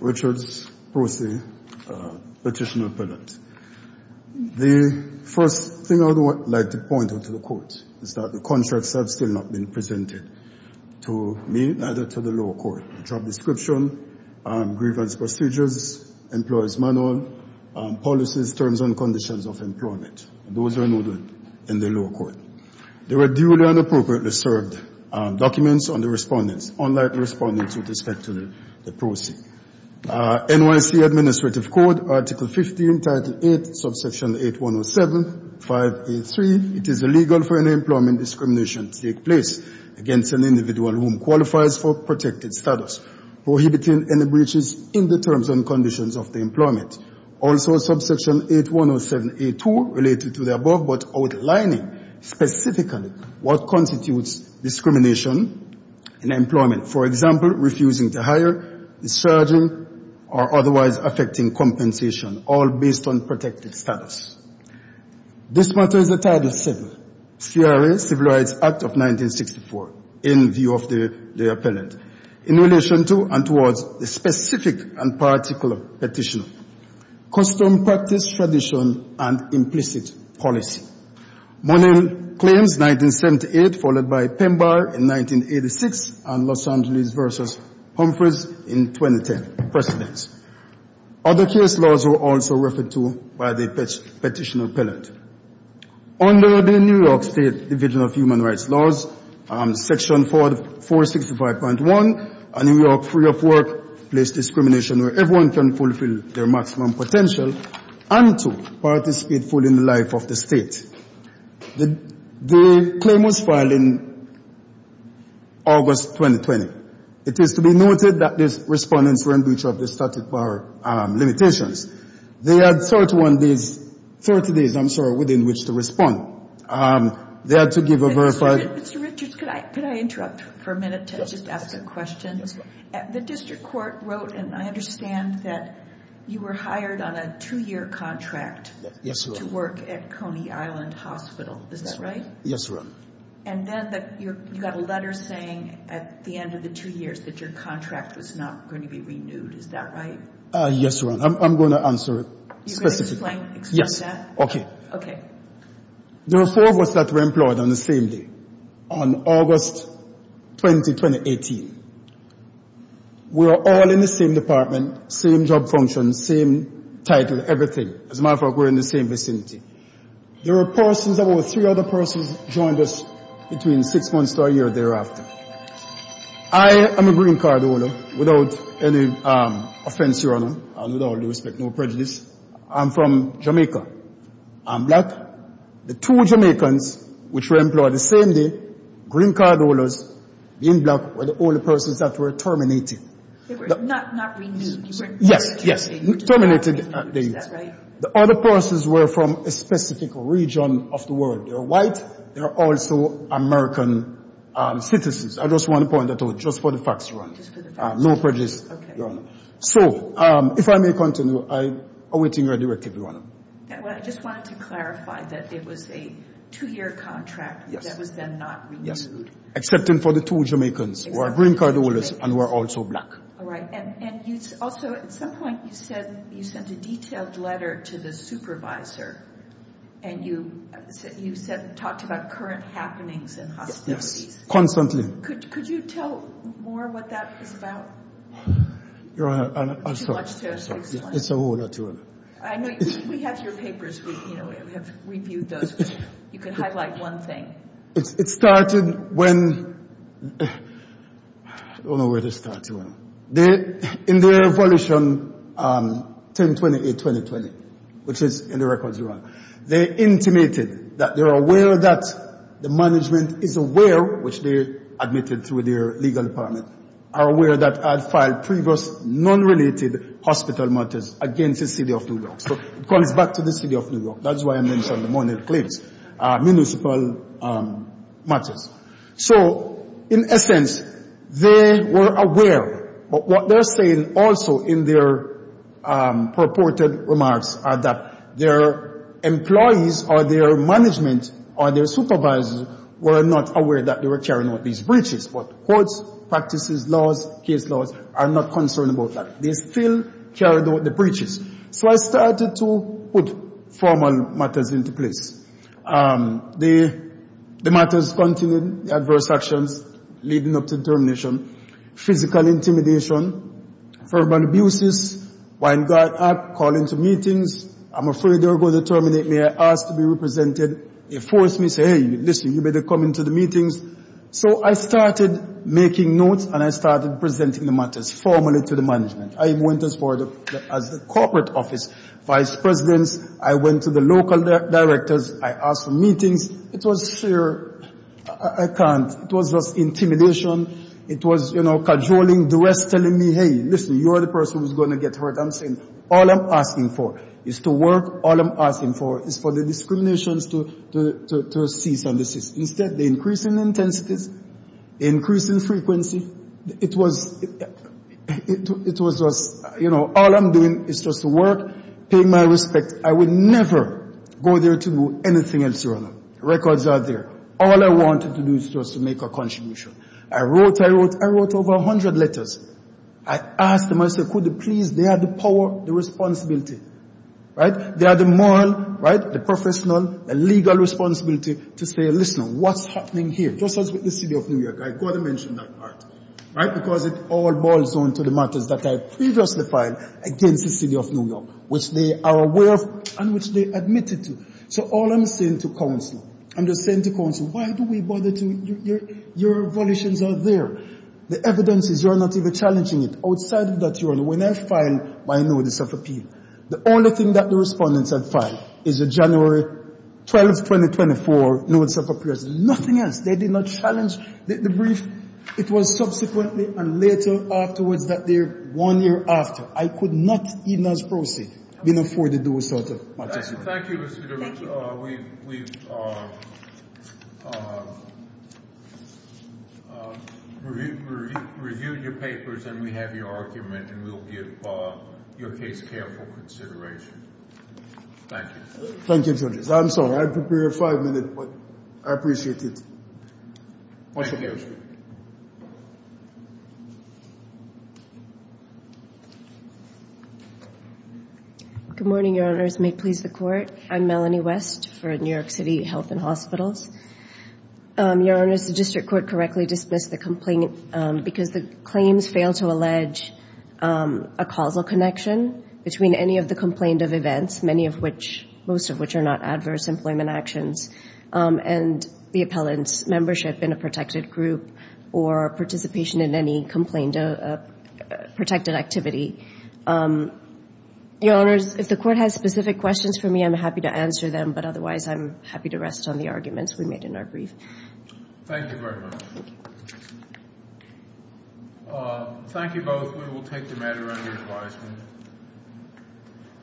Richard Brucey, Petitioner Appellate. The first thing I would like to point out to the court is that the contracts have still not been presented. to me, neither to the lower court. Job description, grievance procedures, employer's manual, policies, terms and conditions of employment. Those are noted in the lower court. They were duly and appropriately served documents on the respondents, unlike the respondents with respect to the proceed. NYC Administrative Code, Article 15, Title 8, Subsection 8107, 5A3. It is illegal for any employment discrimination to take place against an individual whom qualifies for protected status, prohibiting any breaches in the terms and conditions of the employment. Also, Subsection 8107A2 related to the above, but outlining specifically what constitutes discrimination in employment. For example, refusing to hire, discharging, or otherwise affecting compensation, all based on protected status. This matter is a Title VII, C.R.A. Civil Rights Act of 1964, in view of the appellant, in relation to and towards the specific and particular petitioner. Custom, practice, tradition, and implicit policy. Morning Claims, 1978, followed by Pemba in 1986, and Los Angeles v. Humphreys in 2010 precedence. Other case laws were also referred to by the petitioner appellant. Under the New York State Division of Human Rights laws, Section 465.1, a New York free of workplace discrimination where everyone can fulfill their maximum potential and to participate fully in the life of the state. The claim was filed in August 2020. It is to be noted that the respondents were in breach of the statute of limitations. They had 31 days, 30 days I'm sure, within which to respond. They had to give a verified Mr. Richards, could I interrupt for a minute to just ask a question? The district court wrote, and I understand that you were hired on a two-year contract to work at Coney Island Hospital. Is that right? Yes, ma'am. And then you got a letter saying at the end of the two years that your contract was not going to be renewed. Is that right? Yes, ma'am. I'm going to answer it specifically. You're going to explain that? Okay. Okay. There were four of us that were employed on the same day, on August 20, 2018. We were all in the same department, same job functions, same title, everything. As a matter of fact, we were in the same vicinity. There were persons, there were three other persons joined us between six months to a year thereafter. I am a green card holder without any offense, Your Honor, and with all due respect, no prejudice. I'm from Jamaica. I'm black. The two Jamaicans which were employed the same day, green card holders, being black, were the only persons that were terminated. They were not renewed. Yes, yes. Terminated. Is that right? The other persons were from a specific region of the world. They were white. They were also American citizens. I just want to point that out, just for the facts, Your Honor. Just for the facts. No prejudice, Your Honor. So, if I may continue, I'm awaiting your directive, Your Honor. Well, I just wanted to clarify that it was a two-year contract that was then not renewed. Yes, excepting for the two Jamaicans who were green card holders and were also black. All right. And also, at some point, you said you sent a detailed letter to the supervisor, and you talked about current happenings and hostilities. Yes, constantly. Could you tell more what that was about? Your Honor, I'm sorry. Too much to explain. It's a whole other story. We have your papers. We have reviewed those. You can highlight one thing. It started when, I don't know where it started, Your Honor. In the evolution 1028-2020, which is in the records, Your Honor, they intimated that they're aware that the management is aware, which they admitted through their legal department, are aware that I filed previous non-related hospital matters against the city of New York. So it goes back to the city of New York. That's why I mentioned the Monty Cliffs municipal matters. So, in essence, they were aware. But what they're saying also in their purported remarks are that their employees or their management or their supervisors were not aware that they were carrying out these breaches. But courts, practices, laws, case laws are not concerned about that. They still carried out the breaches. So I started to put formal matters into place. The matters continued. The adverse actions leading up to termination. Physical intimidation. Formal abuses. Wine guard calling to meetings. I'm afraid they're going to terminate me. I asked to be represented. They forced me to say, hey, listen, you better come into the meetings. So I started making notes and I started presenting the matters formally to the management. I went as far as the corporate office vice presidents. I went to the local directors. I asked for meetings. It was fear. I can't. It was just intimidation. It was, you know, cajoling, duress, telling me, hey, listen, you're the person who's going to get hurt. I'm saying all I'm asking for is to work. All I'm asking for is for the discriminations to cease and desist. Instead, the increasing intensities, increasing frequency, it was just, you know, all I'm doing is just to work, pay my respects. I would never go there to do anything else. Records are there. All I wanted to do is just to make a contribution. I wrote, I wrote, I wrote over 100 letters. I asked them, I said, could you please, they are the power, the responsibility, right? They are the moral, right, the professional, the legal responsibility to say, listen, what's happening here? Just as with the city of New York, I've got to mention that part, right, because it all boils down to the matters that I previously filed against the city of New York, which they are aware of and which they admitted to. So all I'm saying to counsel, I'm just saying to counsel, why do we bother to, your volitions are there. The evidence is you're not even challenging it. Outside of that, Your Honor, when I filed my notice of appeal, the only thing that the respondents had filed is a January 12th, 2024 notice of appeal. There's nothing else. They did not challenge the brief. It was subsequently and later afterwards that they're one year after. I could not, even as proceed, been afforded those sort of matters. Thank you. We've reviewed your papers, and we have your argument, and we'll give your case careful consideration. Thank you. Thank you, Judge. I'm sorry. I prepared five minutes, but I appreciate it. Thank you. Good morning, Your Honors. May it please the Court. I'm Melanie West for New York City Health and Hospitals. Your Honors, the district court correctly dismissed the complaint because the claims fail to allege a causal connection between any of the complained of events, most of which are not adverse employment actions, and the appellant's membership in a protected group or participation in any complained or protected activity. Your Honors, if the Court has specific questions for me, I'm happy to answer them, but otherwise I'm happy to rest on the arguments we made in our brief. Thank you very much. Thank you. Thank you both. We will take the matter under advisement.